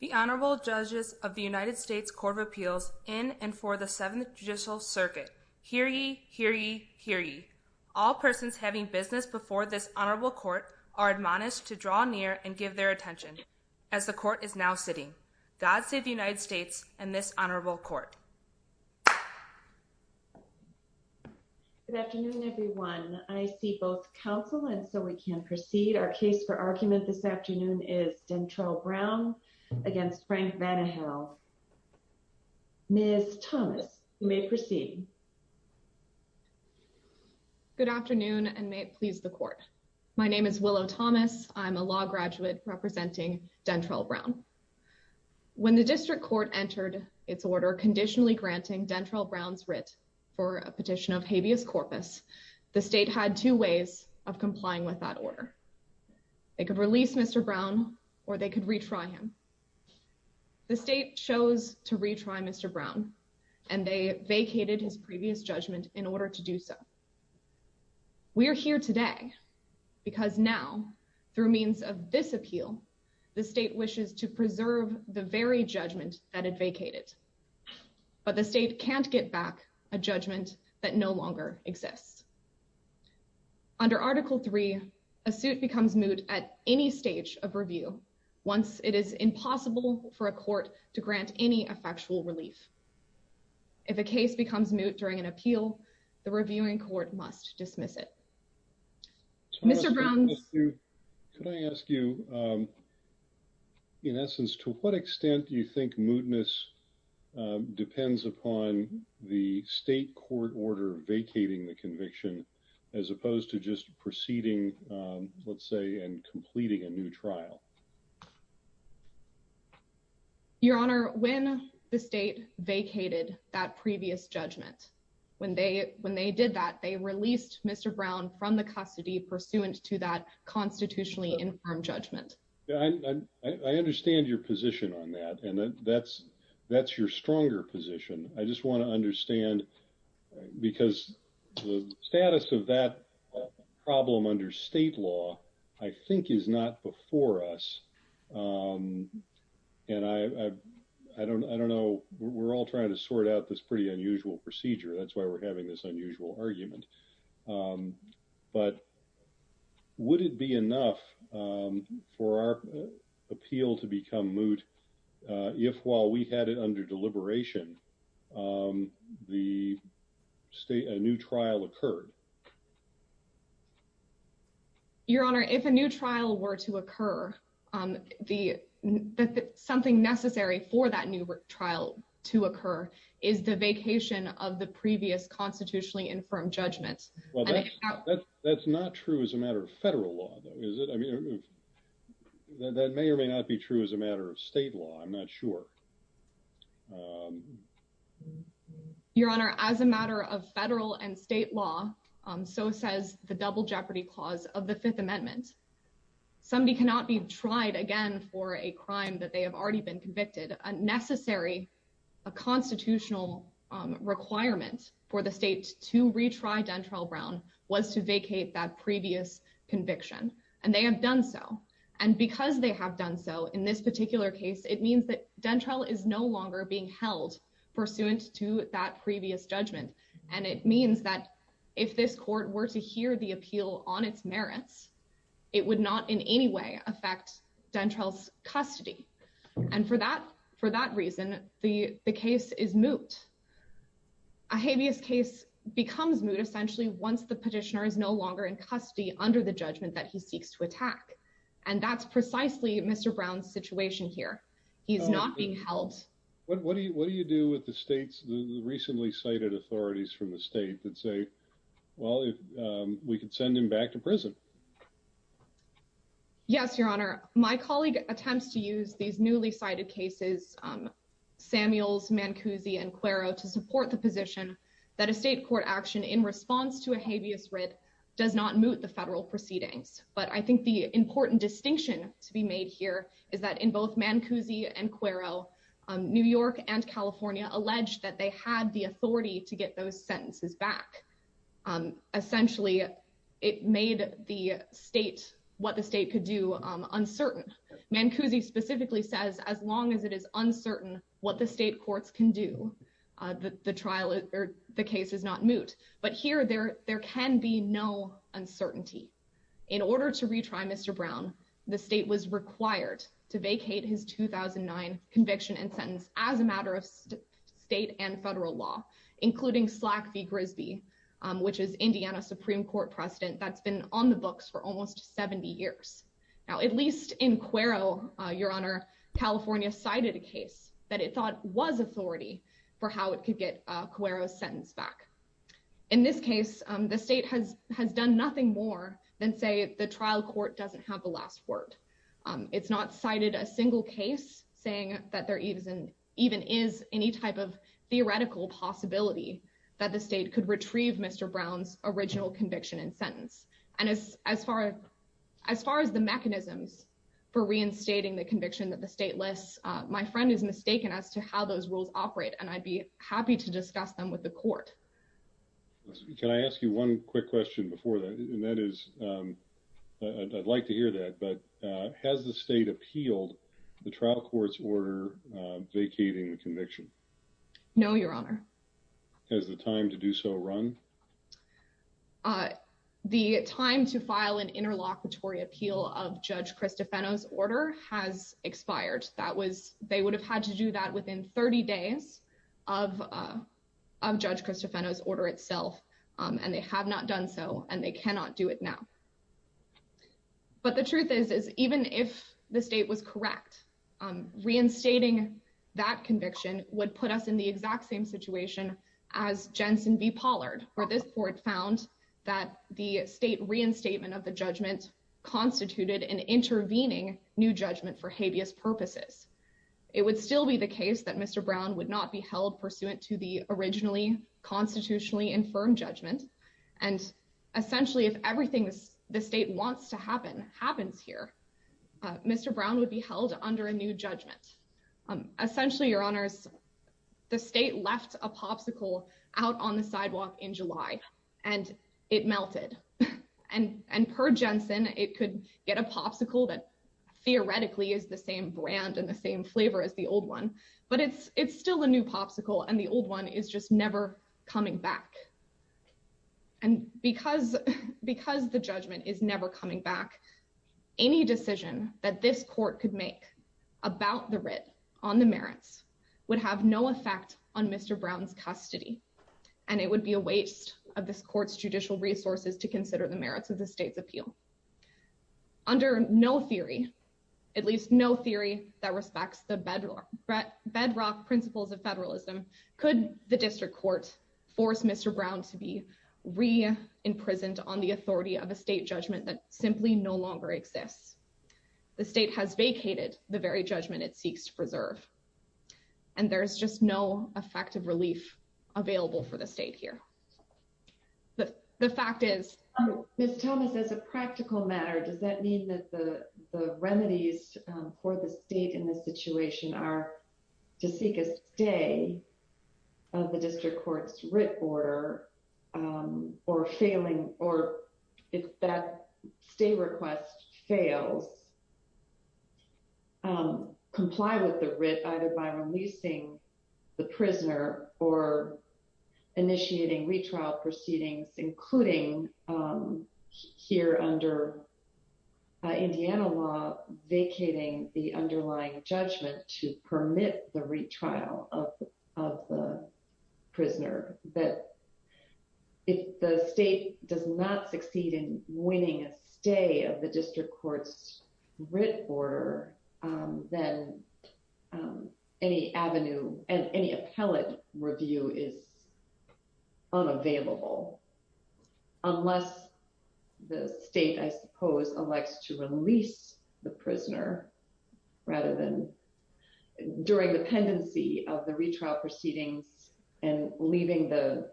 The Honorable Judges of the United States Court of Appeals in and for the Seventh Judicial Circuit. Hear ye, hear ye, hear ye. All persons having business before this Honorable Court are admonished to draw near and give their attention. As the Court is now sitting, God save the United States and this Honorable Court. Good afternoon, everyone. I see both counsel and so we can proceed. Our case for argument this afternoon is Dentrell Brown against Frank Vanihel. Ms. Thomas, you may proceed. Good afternoon, and may it please the Court. My name is Willow Thomas. I'm a law graduate representing Dentrell Brown. When the District Court entered its order conditionally granting Dentrell Brown's writ for a petition of habeas corpus, the State had two ways of complying with that order. They could release Mr. Brown, or they could retry him. The State chose to retry Mr. Brown, and they vacated his previous judgment in order to do so. We are here today because now, through means of this appeal, the State wishes to preserve the very judgment that it vacated. But the State can't get back a judgment that no longer exists. Under Article III, a suit becomes moot at any stage of review once it is impossible for a court to grant any effectual relief. If a case becomes moot during an appeal, the reviewing court must dismiss it. Mr. Brown. Could I ask you, in essence, to what extent do you think mootness depends upon the State court order vacating the conviction as opposed to just proceeding, let's say, and completing a new trial? Your Honor, when the State vacated that previous judgment, when they did that, they released Mr. Brown from the custody pursuant to that constitutionally infirm judgment. I understand your position on that, and that's your stronger position. I just want to understand, because the status of that problem under State law, I think, is not before us. And I don't know. We're all trying to sort out this pretty unusual procedure. That's why we're having this unusual argument. But would it be enough for our appeal to become moot if, while we had it under deliberation, a new trial occurred? Your Honor, if a new trial were to occur, something necessary for that new trial to occur is the vacation of the previous constitutionally infirm judgment. Well, that's not true as a matter of Federal law, though, is it? I mean, that may or may not be true as a matter of State law. I'm not sure. Your Honor, as a matter of Federal and State law, so says the double jeopardy clause of the Fifth Amendment. Somebody cannot be tried again for a crime that they have already been convicted. A necessary constitutional requirement for the State to retry Dentrell Brown was to vacate that previous conviction. And they have done so. And because they have done so in this particular case, it means that Dentrell is no longer being held pursuant to that previous judgment. And it means that if this court were to hear the appeal on its merits, it would not in any way affect Dentrell's custody. And for that reason, the case is moot. A habeas case becomes moot essentially once the petitioner is no longer in custody under the judgment that he seeks to attack. And that's precisely Mr. Brown's situation here. He's not being held. What do you what do you do with the state's recently cited authorities from the state that say, well, we could send him back to prison? Yes, Your Honor. My colleague attempts to use these newly cited cases, Samuels, Mancusi and Quero, to support the position that a state court action in response to a habeas writ does not moot the federal proceedings. But I think the important distinction to be made here is that in both Mancusi and Quero, New York and California alleged that they had the authority to get those sentences back. Essentially, it made the state what the state could do uncertain. Mancusi specifically says as long as it is uncertain what the state courts can do, the trial or the case is not moot. But here there there can be no uncertainty. In order to retry Mr. Brown, the state was required to vacate his 2009 conviction and sentence as a matter of state and federal law, including Slack v. Grisby, which is Indiana Supreme Court precedent that's been on the books for almost 70 years. Now, at least in Quero, Your Honor, California cited a case that it thought was authority for how it could get Quero's sentence back. In this case, the state has done nothing more than say the trial court doesn't have the last word. It's not cited a single case saying that there even is any type of theoretical possibility that the state could retrieve Mr. Brown's original conviction and sentence. And as far as the mechanisms for reinstating the conviction that the state lists, my friend is mistaken as to how those rules operate. And I'd be happy to discuss them with the court. Can I ask you one quick question before that? And that is I'd like to hear that. But has the state appealed the trial court's order vacating the conviction? No, Your Honor. Has the time to do so run? The time to file an interlocutory appeal of Judge Cristofano's order has expired. That was they would have had to do that within 30 days of Judge Cristofano's order itself. And they have not done so and they cannot do it now. But the truth is, is even if the state was correct, reinstating that conviction would put us in the exact same situation as Jensen v. Pollard, where this court found that the state reinstatement of the judgment constituted an intervening new judgment for habeas purposes. It would still be the case that Mr. Brown would not be held pursuant to the originally constitutionally infirm judgment. And essentially, if everything the state wants to happen happens here, Mr. Brown would be held under a new judgment. Essentially, Your Honors, the state left a popsicle out on the sidewalk in July, and it melted. And per Jensen, it could get a popsicle that theoretically is the same brand and the same flavor as the old one, but it's still a new popsicle and the old one is just never coming back. And because the judgment is never coming back, any decision that this court could make about the writ on the merits would have no effect on Mr. Brown's custody. And it would be a waste of this court's judicial resources to consider the merits of the state's appeal. Under no theory, at least no theory that respects the bedrock principles of federalism, could the district court force Mr. Brown to be re-imprisoned on the authority of a state judgment that simply no longer exists? The state has vacated the very judgment it seeks to preserve. And there's just no effective relief available for the state here. But the fact is, Ms. Thomas, as a practical matter, does that mean that the remedies for the state in this situation are to seek a stay of the district court's writ order or failing or if that stay request fails, comply with the writ either by releasing the prisoner or initiating retrial proceedings, including here under Indiana law vacating the underlying judgment to permit the retrial of the prisoner? If the state does not succeed in winning a stay of the district court's writ order, then any avenue and any appellate review is unavailable unless the state, I suppose, elects to release the prisoner during the pendency of the retrial proceedings and leaving the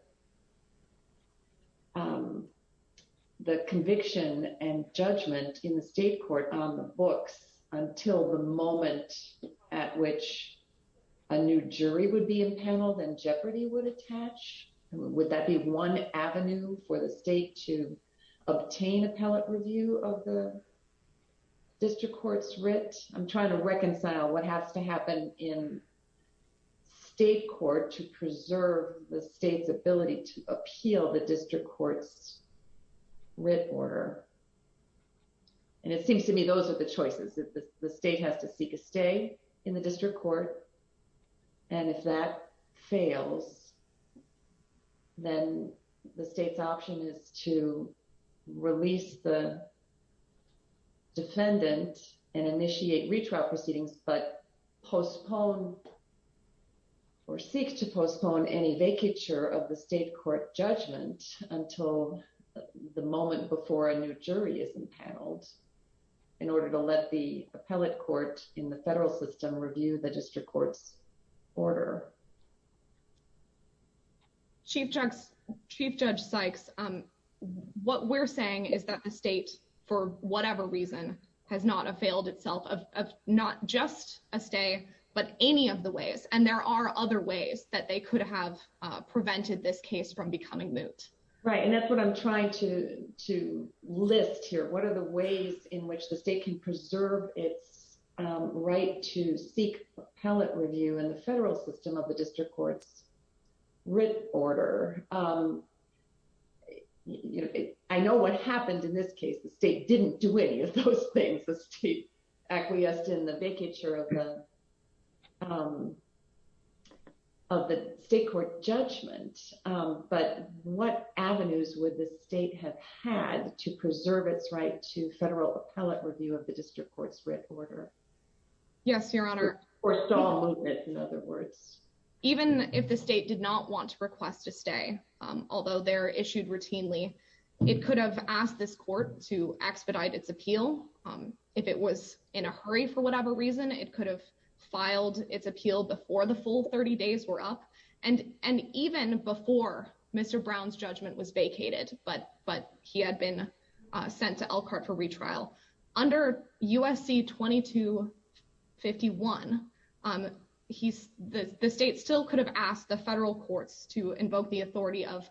conviction and judgment in the state court on the books until the moment at which a new jury would be impaneled and jeopardy would attach? Would that be one avenue for the state to obtain appellate review of the district court's writ? I'm trying to reconcile what has to happen in state court to preserve the state's ability to appeal the district court's writ order. And it seems to me those are the choices that the state has to seek a stay in the district court. And if that fails, then the state's option is to release the defendant and initiate retrial proceedings, but postpone or seek to postpone any vacature of the state court judgment until the moment before a new jury is impaneled in order to let the appellate court in the federal system review the district court's order. Chief Judge Sykes, what we're saying is that the state, for whatever reason, has not a failed itself of not just a stay, but any of the ways and there are other ways that they could have prevented this case from becoming moot. Right. And that's what I'm trying to list here. What are the ways in which the state can preserve its right to seek appellate review in the federal system of the district court's writ order? I know what happened in this case, the state didn't do any of those things, the state acquiesced in the vacature of the state court judgment. But what avenues would the state have had to preserve its right to federal appellate review of the district court's writ order? Yes, Your Honor. Or stall moot it, in other words. Even if the state did not want to request a stay, although they're issued routinely, it could have asked this court to expedite its appeal. If it was in a hurry for whatever reason, it could have filed its appeal before the full 30 days were up. And even before Mr. Brown's judgment was vacated, but he had been sent to Elkhart for retrial. Under USC 2251, the state still could have asked the federal courts to invoke the authority of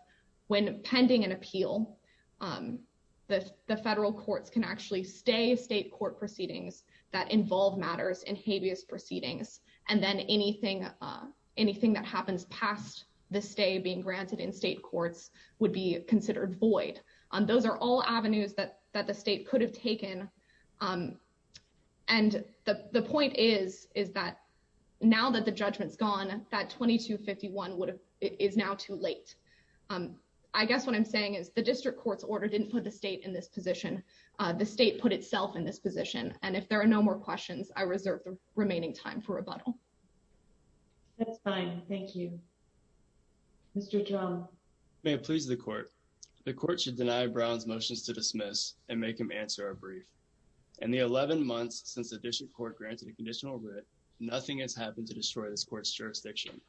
when pending an appeal, the federal courts can actually stay state court proceedings that involve matters in habeas proceedings. And then anything that happens past the stay being granted in state courts would be considered void. Those are all avenues that the state could have taken. And the point is, is that now that the judgment's gone, that 2251 is now too late. I guess what I'm saying is the district court's order didn't put the state in this position. The state put itself in this position. And if there are no more questions, I reserve the remaining time for rebuttal. That's fine. Thank you. Mr. Drum. May it please the court. The court should deny Brown's motions to dismiss and make him answer a brief. In the 11 months since the district court granted a conditional writ, nothing has happened to destroy this court's jurisdiction.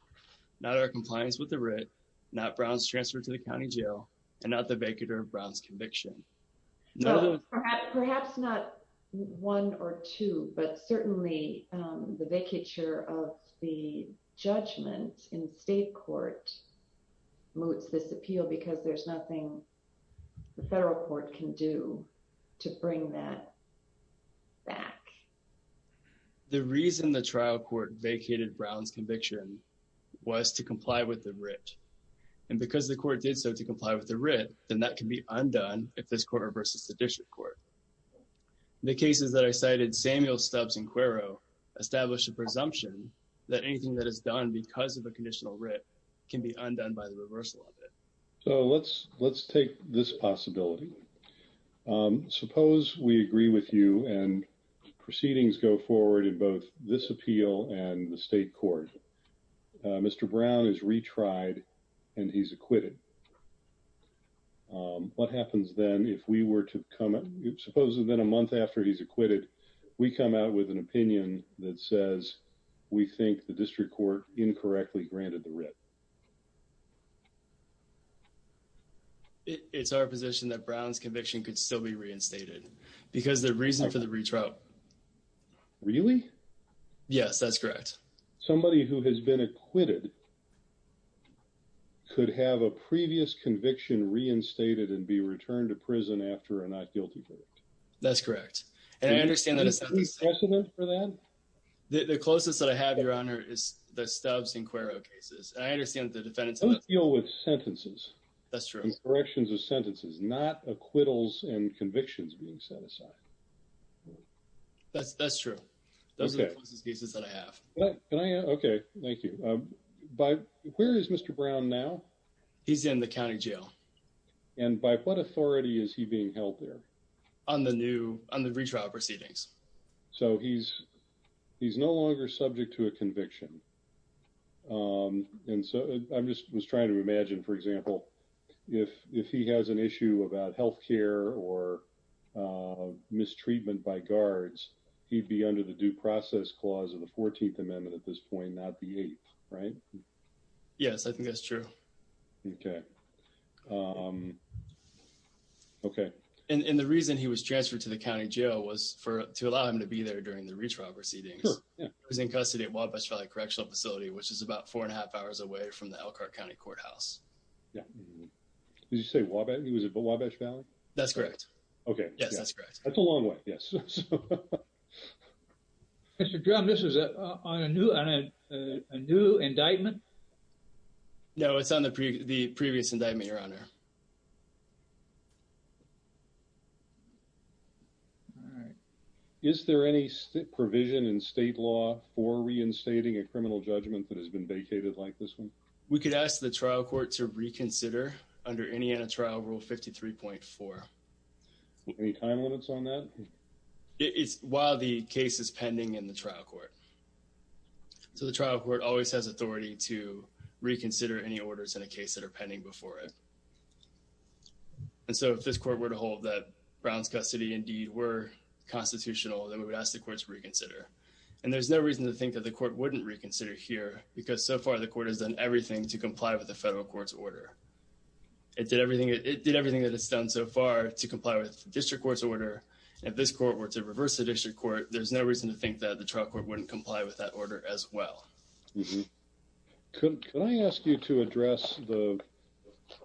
Not our compliance with the writ, not Brown's transfer to the county jail, and not the vacator of Brown's conviction. Perhaps not one or two, but certainly the vacature of the judgment in state court moots this appeal because there's nothing the federal court can do to bring that back. The reason the trial court vacated Brown's conviction was to comply with the writ. And because the court did so to comply with the writ, then that can be undone if this court reverses the district court. The cases that I cited, Samuel, Stubbs, and Quero, establish a presumption that anything that is done because of a conditional writ can be undone by the reversal of it. So let's take this possibility. Suppose we agree with you and proceedings go forward in both this appeal and the state court. Mr. Brown is retried and he's acquitted. What happens then if we were to come up, supposing then a month after he's acquitted, we come out with an opinion that says we think the district court incorrectly granted the writ? It's our position that Brown's conviction could still be reinstated because the reason for the retrial. Really? Yes, that's correct. Somebody who has been acquitted could have a previous conviction reinstated and be returned to prison after a not guilty verdict. That's correct. And I understand that. Is there precedent for that? The closest that I have, Your Honor, is the Stubbs and Quero cases. And I understand that the defendants. Don't deal with sentences. That's true. Corrections of sentences, not acquittals and convictions being set aside. That's true. Those are the closest cases that I have. Okay. Thank you. But where is Mr. Brown now? He's in the county jail. And by what authority is he being held there? On the new on the retrial proceedings. So he's he's no longer subject to a conviction. And so I'm just trying to imagine, for example, if if he has an issue about health care or mistreatment by guards, he'd be under the due process clause of the 14th amendment at this point, not the eighth. Right. Yes, I think that's true. Okay. Okay. And the reason he was transferred to the county jail was for to allow him to be there during the retrial proceedings. He was in custody at Wabash Valley Correctional Facility, which is about four and a half hours away from the Elkhart County Courthouse. Yeah. Did you say he was at Wabash Valley? That's correct. Okay. Yes, that's correct. That's a long way. Yes. Mr. Brown, this is on a new on a new indictment. No, it's on the previous indictment, Your Honor. All right. Is there any provision in state law for reinstating a criminal judgment that has been vacated like this one? We could ask the trial court to reconsider under Indiana Trial Rule 53.4. Any time limits on that? It's while the case is pending in the trial court. So the trial court always has authority to reconsider any orders in a case that are pending before it. And so if this court were to hold that Brown's custody and deed were constitutional, then we would ask the courts reconsider. And there's no reason to think that the court wouldn't reconsider here because so far the court has done everything to comply with the federal court's order. It did everything that it's done so far to comply with the district court's order. If this court were to reverse the district court, there's no reason to think that the trial court wouldn't comply with that order as well. Could I ask you to address the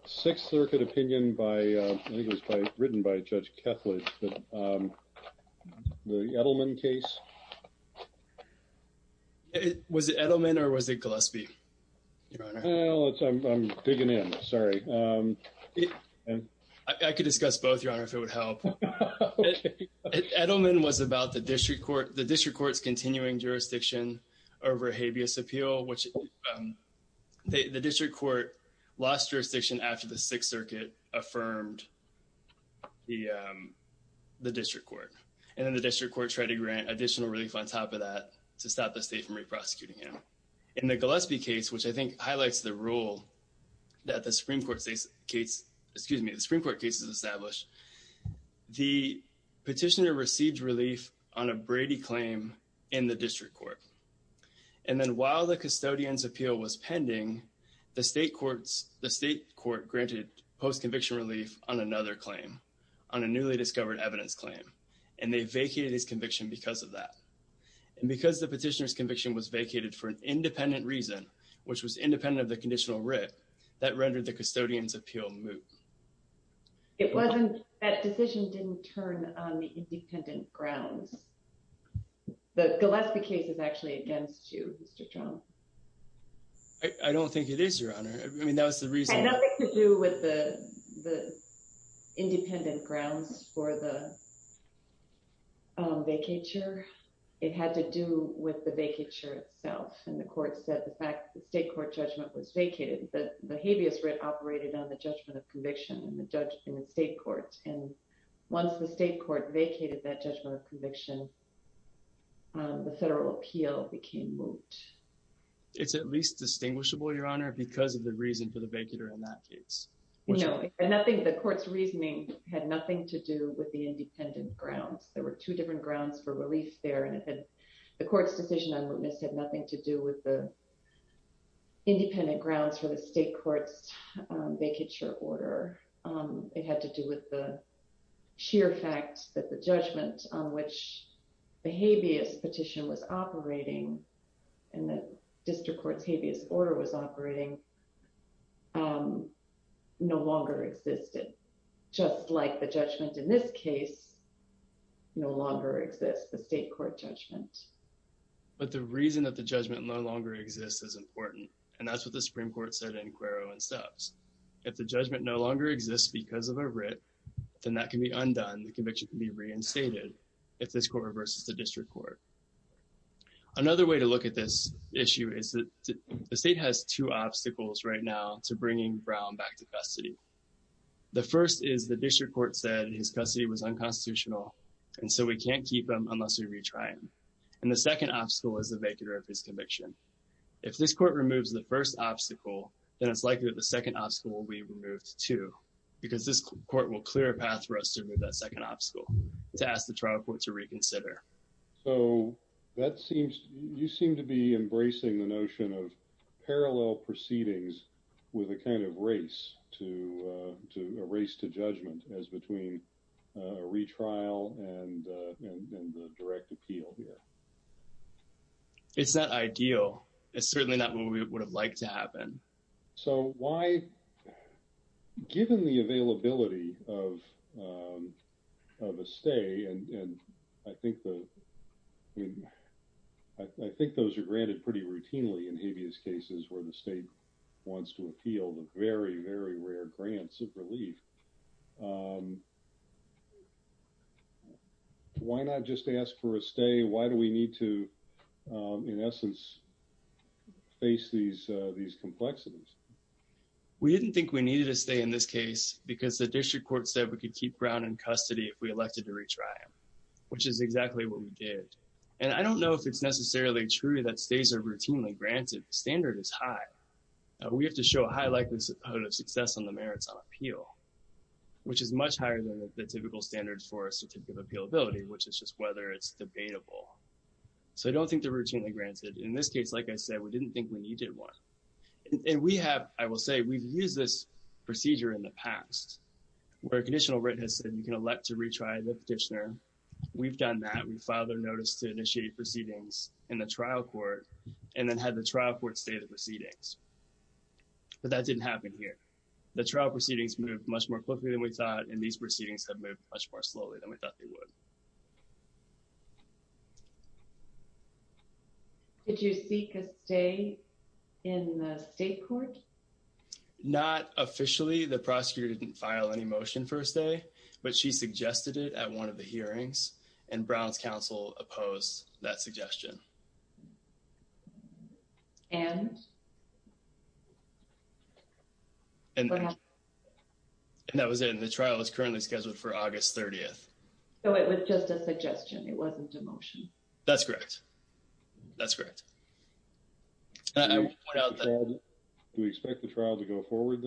Sixth Circuit opinion by it was written by Judge Kethledge, the Edelman case? Was it Edelman or was it Gillespie? I'm digging in. Sorry. I could discuss both, Your Honor, if it would help. Edelman was about the district court. The district court's continuing jurisdiction over habeas appeal, which the district court lost jurisdiction after the Sixth Circuit affirmed the district court. And then the district court tried to grant additional relief on top of that to stop the state from re-prosecuting him. In the Gillespie case, which I think highlights the role that the Supreme Court case has established, the petitioner received relief on a Brady claim in the district court. And then while the custodian's appeal was pending, the state court granted post-conviction relief on another claim, on a newly discovered evidence claim. And they vacated his conviction because of that. And because the petitioner's conviction was vacated for an independent reason, which was independent of the conditional writ, that rendered the custodian's appeal moot. That decision didn't turn on the independent grounds. The Gillespie case is actually against you, Mr. Trump. I don't think it is, Your Honor. It had nothing to do with the independent grounds for the vacature. It had to do with the vacature itself. And the court said the fact that the state court judgment was vacated, the habeas writ operated on the judgment of conviction in the state court. And once the state court vacated that judgment of conviction, the federal appeal became moot. It's at least distinguishable, Your Honor, because of the reason for the vacater in that case. No, the court's reasoning had nothing to do with the independent grounds. There were two different grounds for relief there. And the court's decision on mootness had nothing to do with the independent grounds for the state court's vacature order. It had to do with the sheer fact that the judgment on which the habeas petition was operating and the district court's habeas order was operating no longer existed. Just like the judgment in this case no longer exists, the state court judgment. But the reason that the judgment no longer exists is important. And that's what the Supreme Court said in Quero and Stubbs. If the judgment no longer exists because of a writ, then that can be undone. The conviction can be reinstated if this court reverses the district court. Another way to look at this issue is that the state has two obstacles right now to bringing Brown back to custody. The first is the district court said his custody was unconstitutional, and so we can't keep him unless we retry him. And the second obstacle is the vacater of his conviction. If this court removes the first obstacle, then it's likely that the second obstacle will be removed, too, because this court will clear a path for us to remove that second obstacle to ask the trial court to reconsider. So you seem to be embracing the notion of parallel proceedings with a kind of race to judgment as between a retrial and the direct appeal here. It's not ideal. It's certainly not what we would have liked to happen. So why, given the availability of a stay, and I think those are granted pretty routinely in habeas cases where the state wants to appeal, the very, very rare grants of relief, why not just ask for a stay? Why do we need to, in essence, face these complexities? We didn't think we needed a stay in this case because the district court said we could keep Brown in custody if we elected to retry him, which is exactly what we did. And I don't know if it's necessarily true that stays are routinely granted. The standard is high. We have to show a high likelihood of success on the merits on appeal, which is much higher than the typical standards for a certificate of appealability, which is just whether it's debatable. So I don't think they're routinely granted. In this case, like I said, we didn't think we needed one. And we have, I will say, we've used this procedure in the past where a conditional writ has said you can elect to retry the petitioner. We've done that. We filed a notice to initiate proceedings in the trial court and then had the trial court state the proceedings. But that didn't happen here. The trial proceedings moved much more quickly than we thought, and these proceedings have moved much more slowly than we thought they would. Did you seek a stay in the state court? Not officially. The prosecutor didn't file any motion for a stay, but she suggested it at one of the hearings and Brown's counsel opposed that suggestion. And. And that was in the trial is currently scheduled for August 30th. So it was just a suggestion. It wasn't a motion. That's correct. That's correct. We expect the trial to go forward.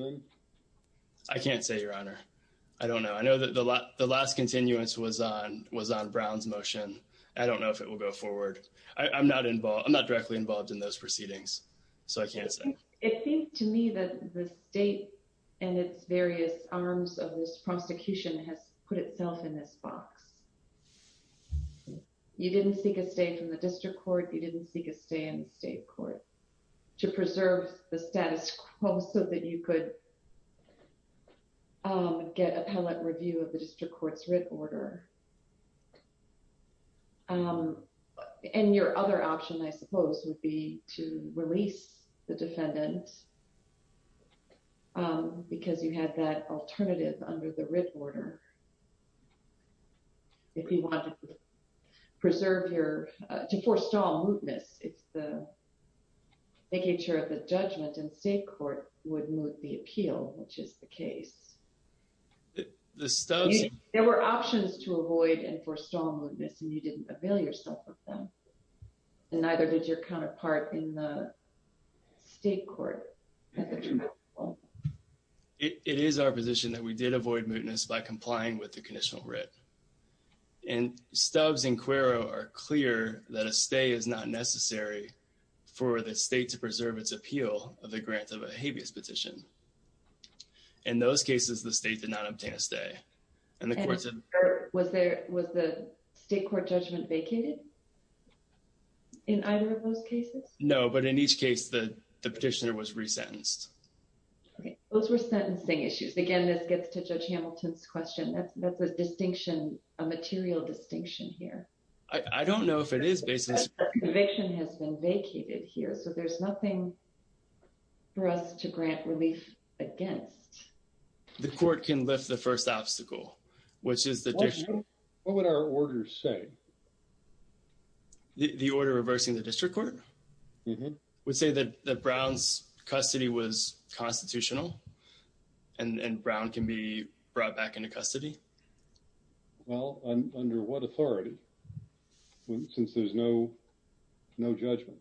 I can't say, Your Honor. I don't know. I know that the last the last continuance was on was on Brown's motion. I don't know if it will go forward. I'm not involved. I'm not directly involved in those proceedings. It seems to me that the state and its various arms of this prosecution has put itself in this box. You didn't seek a stay from the district court. You didn't seek a stay in state court to preserve the status quo so that you could get appellate review of the district court's writ order. And your other option, I suppose, would be to release the defendant because you had that alternative under the writ order. If you want to preserve your to forestall mootness, it's the making sure that judgment and state court would move the appeal, which is the case. There were options to avoid and forestall mootness, and you didn't avail yourself of them. And neither did your counterpart in the state court. It is our position that we did avoid mootness by complying with the conditional writ. And Stubbs and Cuero are clear that a stay is not necessary for the state to preserve its appeal of the grant of a habeas petition. In those cases, the state did not obtain a stay. And the court said... Was the state court judgment vacated in either of those cases? No, but in each case, the petitioner was resentenced. Those were sentencing issues. Again, this gets to Judge Hamilton's question. That's a distinction, a material distinction here. I don't know if it is based on... The conviction has been vacated here, so there's nothing for us to grant relief against. The court can lift the first obstacle, which is the... What would our order say? The order reversing the district court would say that Brown's custody was constitutional and Brown can be brought back into custody. Well, under what authority? Since there's no judgment.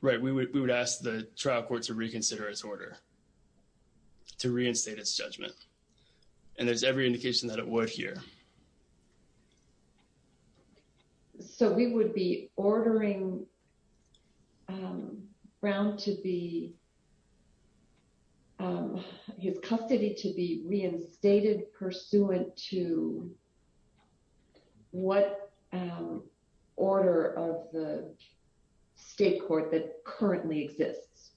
Right, we would ask the trial court to reconsider its order, to reinstate its judgment. And there's every indication that it would here. So we would be ordering Brown to be... His custody to be reinstated pursuant to what order of the state court that currently exists?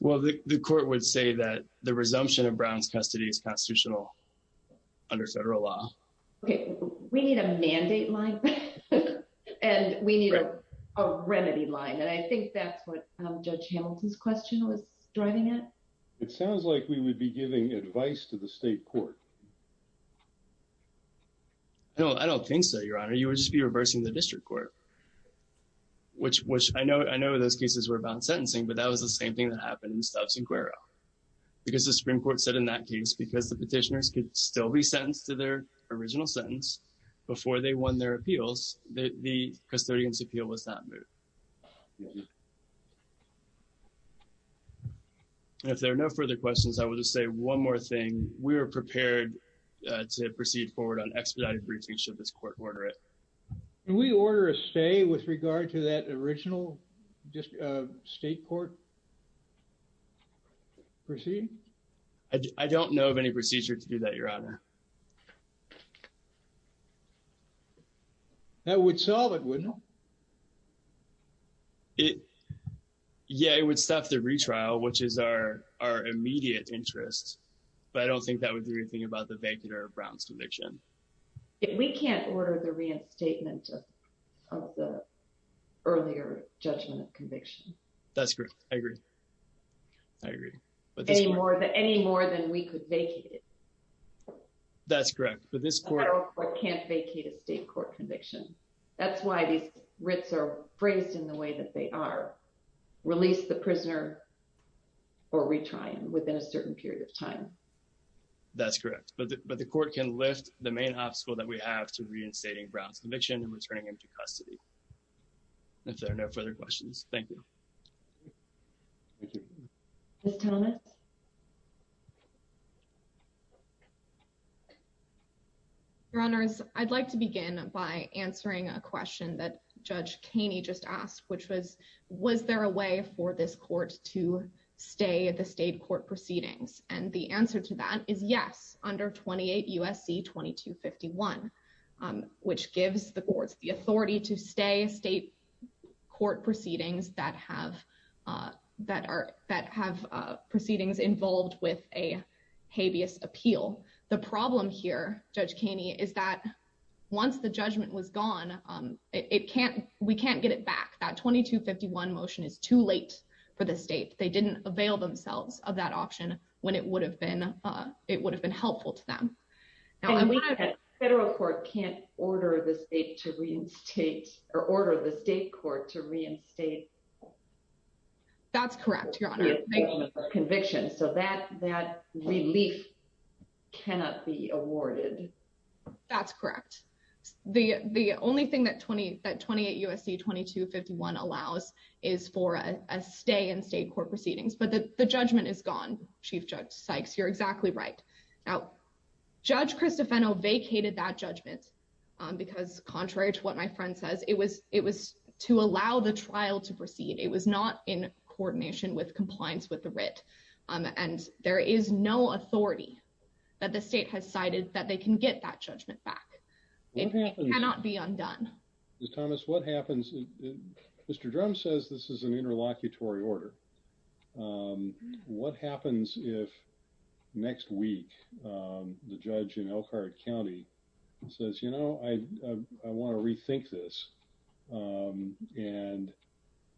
Well, the court would say that the resumption of Brown's custody is constitutional under federal law. Okay, we need a mandate line, and we need a remedy line. And I think that's what Judge Hamilton's question was driving at. It sounds like we would be giving advice to the state court. No, I don't think so, Your Honor. You would just be reversing the district court, which I know those cases were about sentencing, but that was the same thing that happened in Stubbs and Cuero. Because the Supreme Court said in that case, because the petitioners could still be sentenced to their original sentence before they won their appeals, the custodian's appeal was not moved. If there are no further questions, I will just say one more thing. We are prepared to proceed forward on expedited briefings should this court order it. Can we order a stay with regard to that original state court proceeding? I don't know of any procedure to do that, Your Honor. That would solve it, wouldn't it? Yeah, it would stop the retrial, which is our immediate interest. But I don't think that would do anything about the vacater of Brown's conviction. We can't order the reinstatement of the earlier judgment of conviction. That's correct. I agree. Any more than we could vacate it. That's correct. A federal court can't vacate a state court conviction. That's why these writs are phrased in the way that they are. Release the prisoner or retry him within a certain period of time. That's correct. But the court can lift the main obstacle that we have to reinstating Brown's conviction and returning him to custody. If there are no further questions, thank you. Ms. Thomas. Your Honors, I'd like to begin by answering a question that Judge Keeney just asked, which was, was there a way for this court to stay at the state court proceedings? And the answer to that is yes. Under 28 U.S.C. 2251, which gives the courts the authority to stay state court proceedings that have that are that have proceedings involved with a habeas appeal. The problem here, Judge Keeney, is that once the judgment was gone, it can't we can't get it back. That 2251 motion is too late for the state. They didn't avail themselves of that option when it would have been. It would have been helpful to them. Federal court can't order the state to reinstate or order the state court to reinstate. That's correct, Your Honor. Conviction so that that relief cannot be awarded. That's correct. The the only thing that 20 that 28 U.S.C. 2251 allows is for a stay in state court proceedings. But the judgment is gone. Chief Judge Sykes, you're exactly right. Now, Judge Christopheno vacated that judgment because contrary to what my friend says, it was it was to allow the trial to proceed. It was not in coordination with compliance with the writ. And there is no authority that the state has cited that they can get that judgment back. It cannot be undone. Thomas, what happens? Mr. Drum says this is an interlocutory order. What happens if next week the judge in Elkhart County says, you know, I want to rethink this. And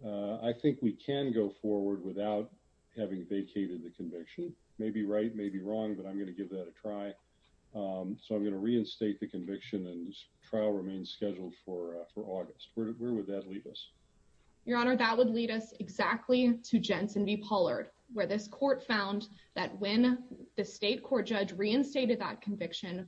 I think we can go forward without having vacated the conviction. Maybe right. Maybe wrong. But I'm going to give that a try. So I'm going to reinstate the conviction and trial remains scheduled for for August. Where would that leave us? Your Honor, that would lead us exactly to Jensen v. Pollard, where this court found that when the state court judge reinstated that conviction,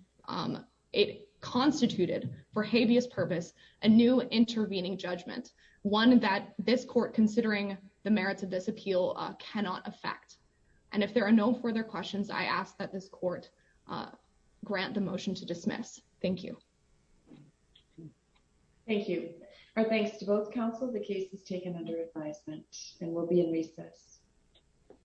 it constituted for habeas purpose, a new intervening judgment. One that this court, considering the merits of this appeal, cannot affect. And if there are no further questions, I ask that this court grant the motion to dismiss. Thank you. Thank you. Our thanks to both counsel. The case is taken under advisement and will be in recess.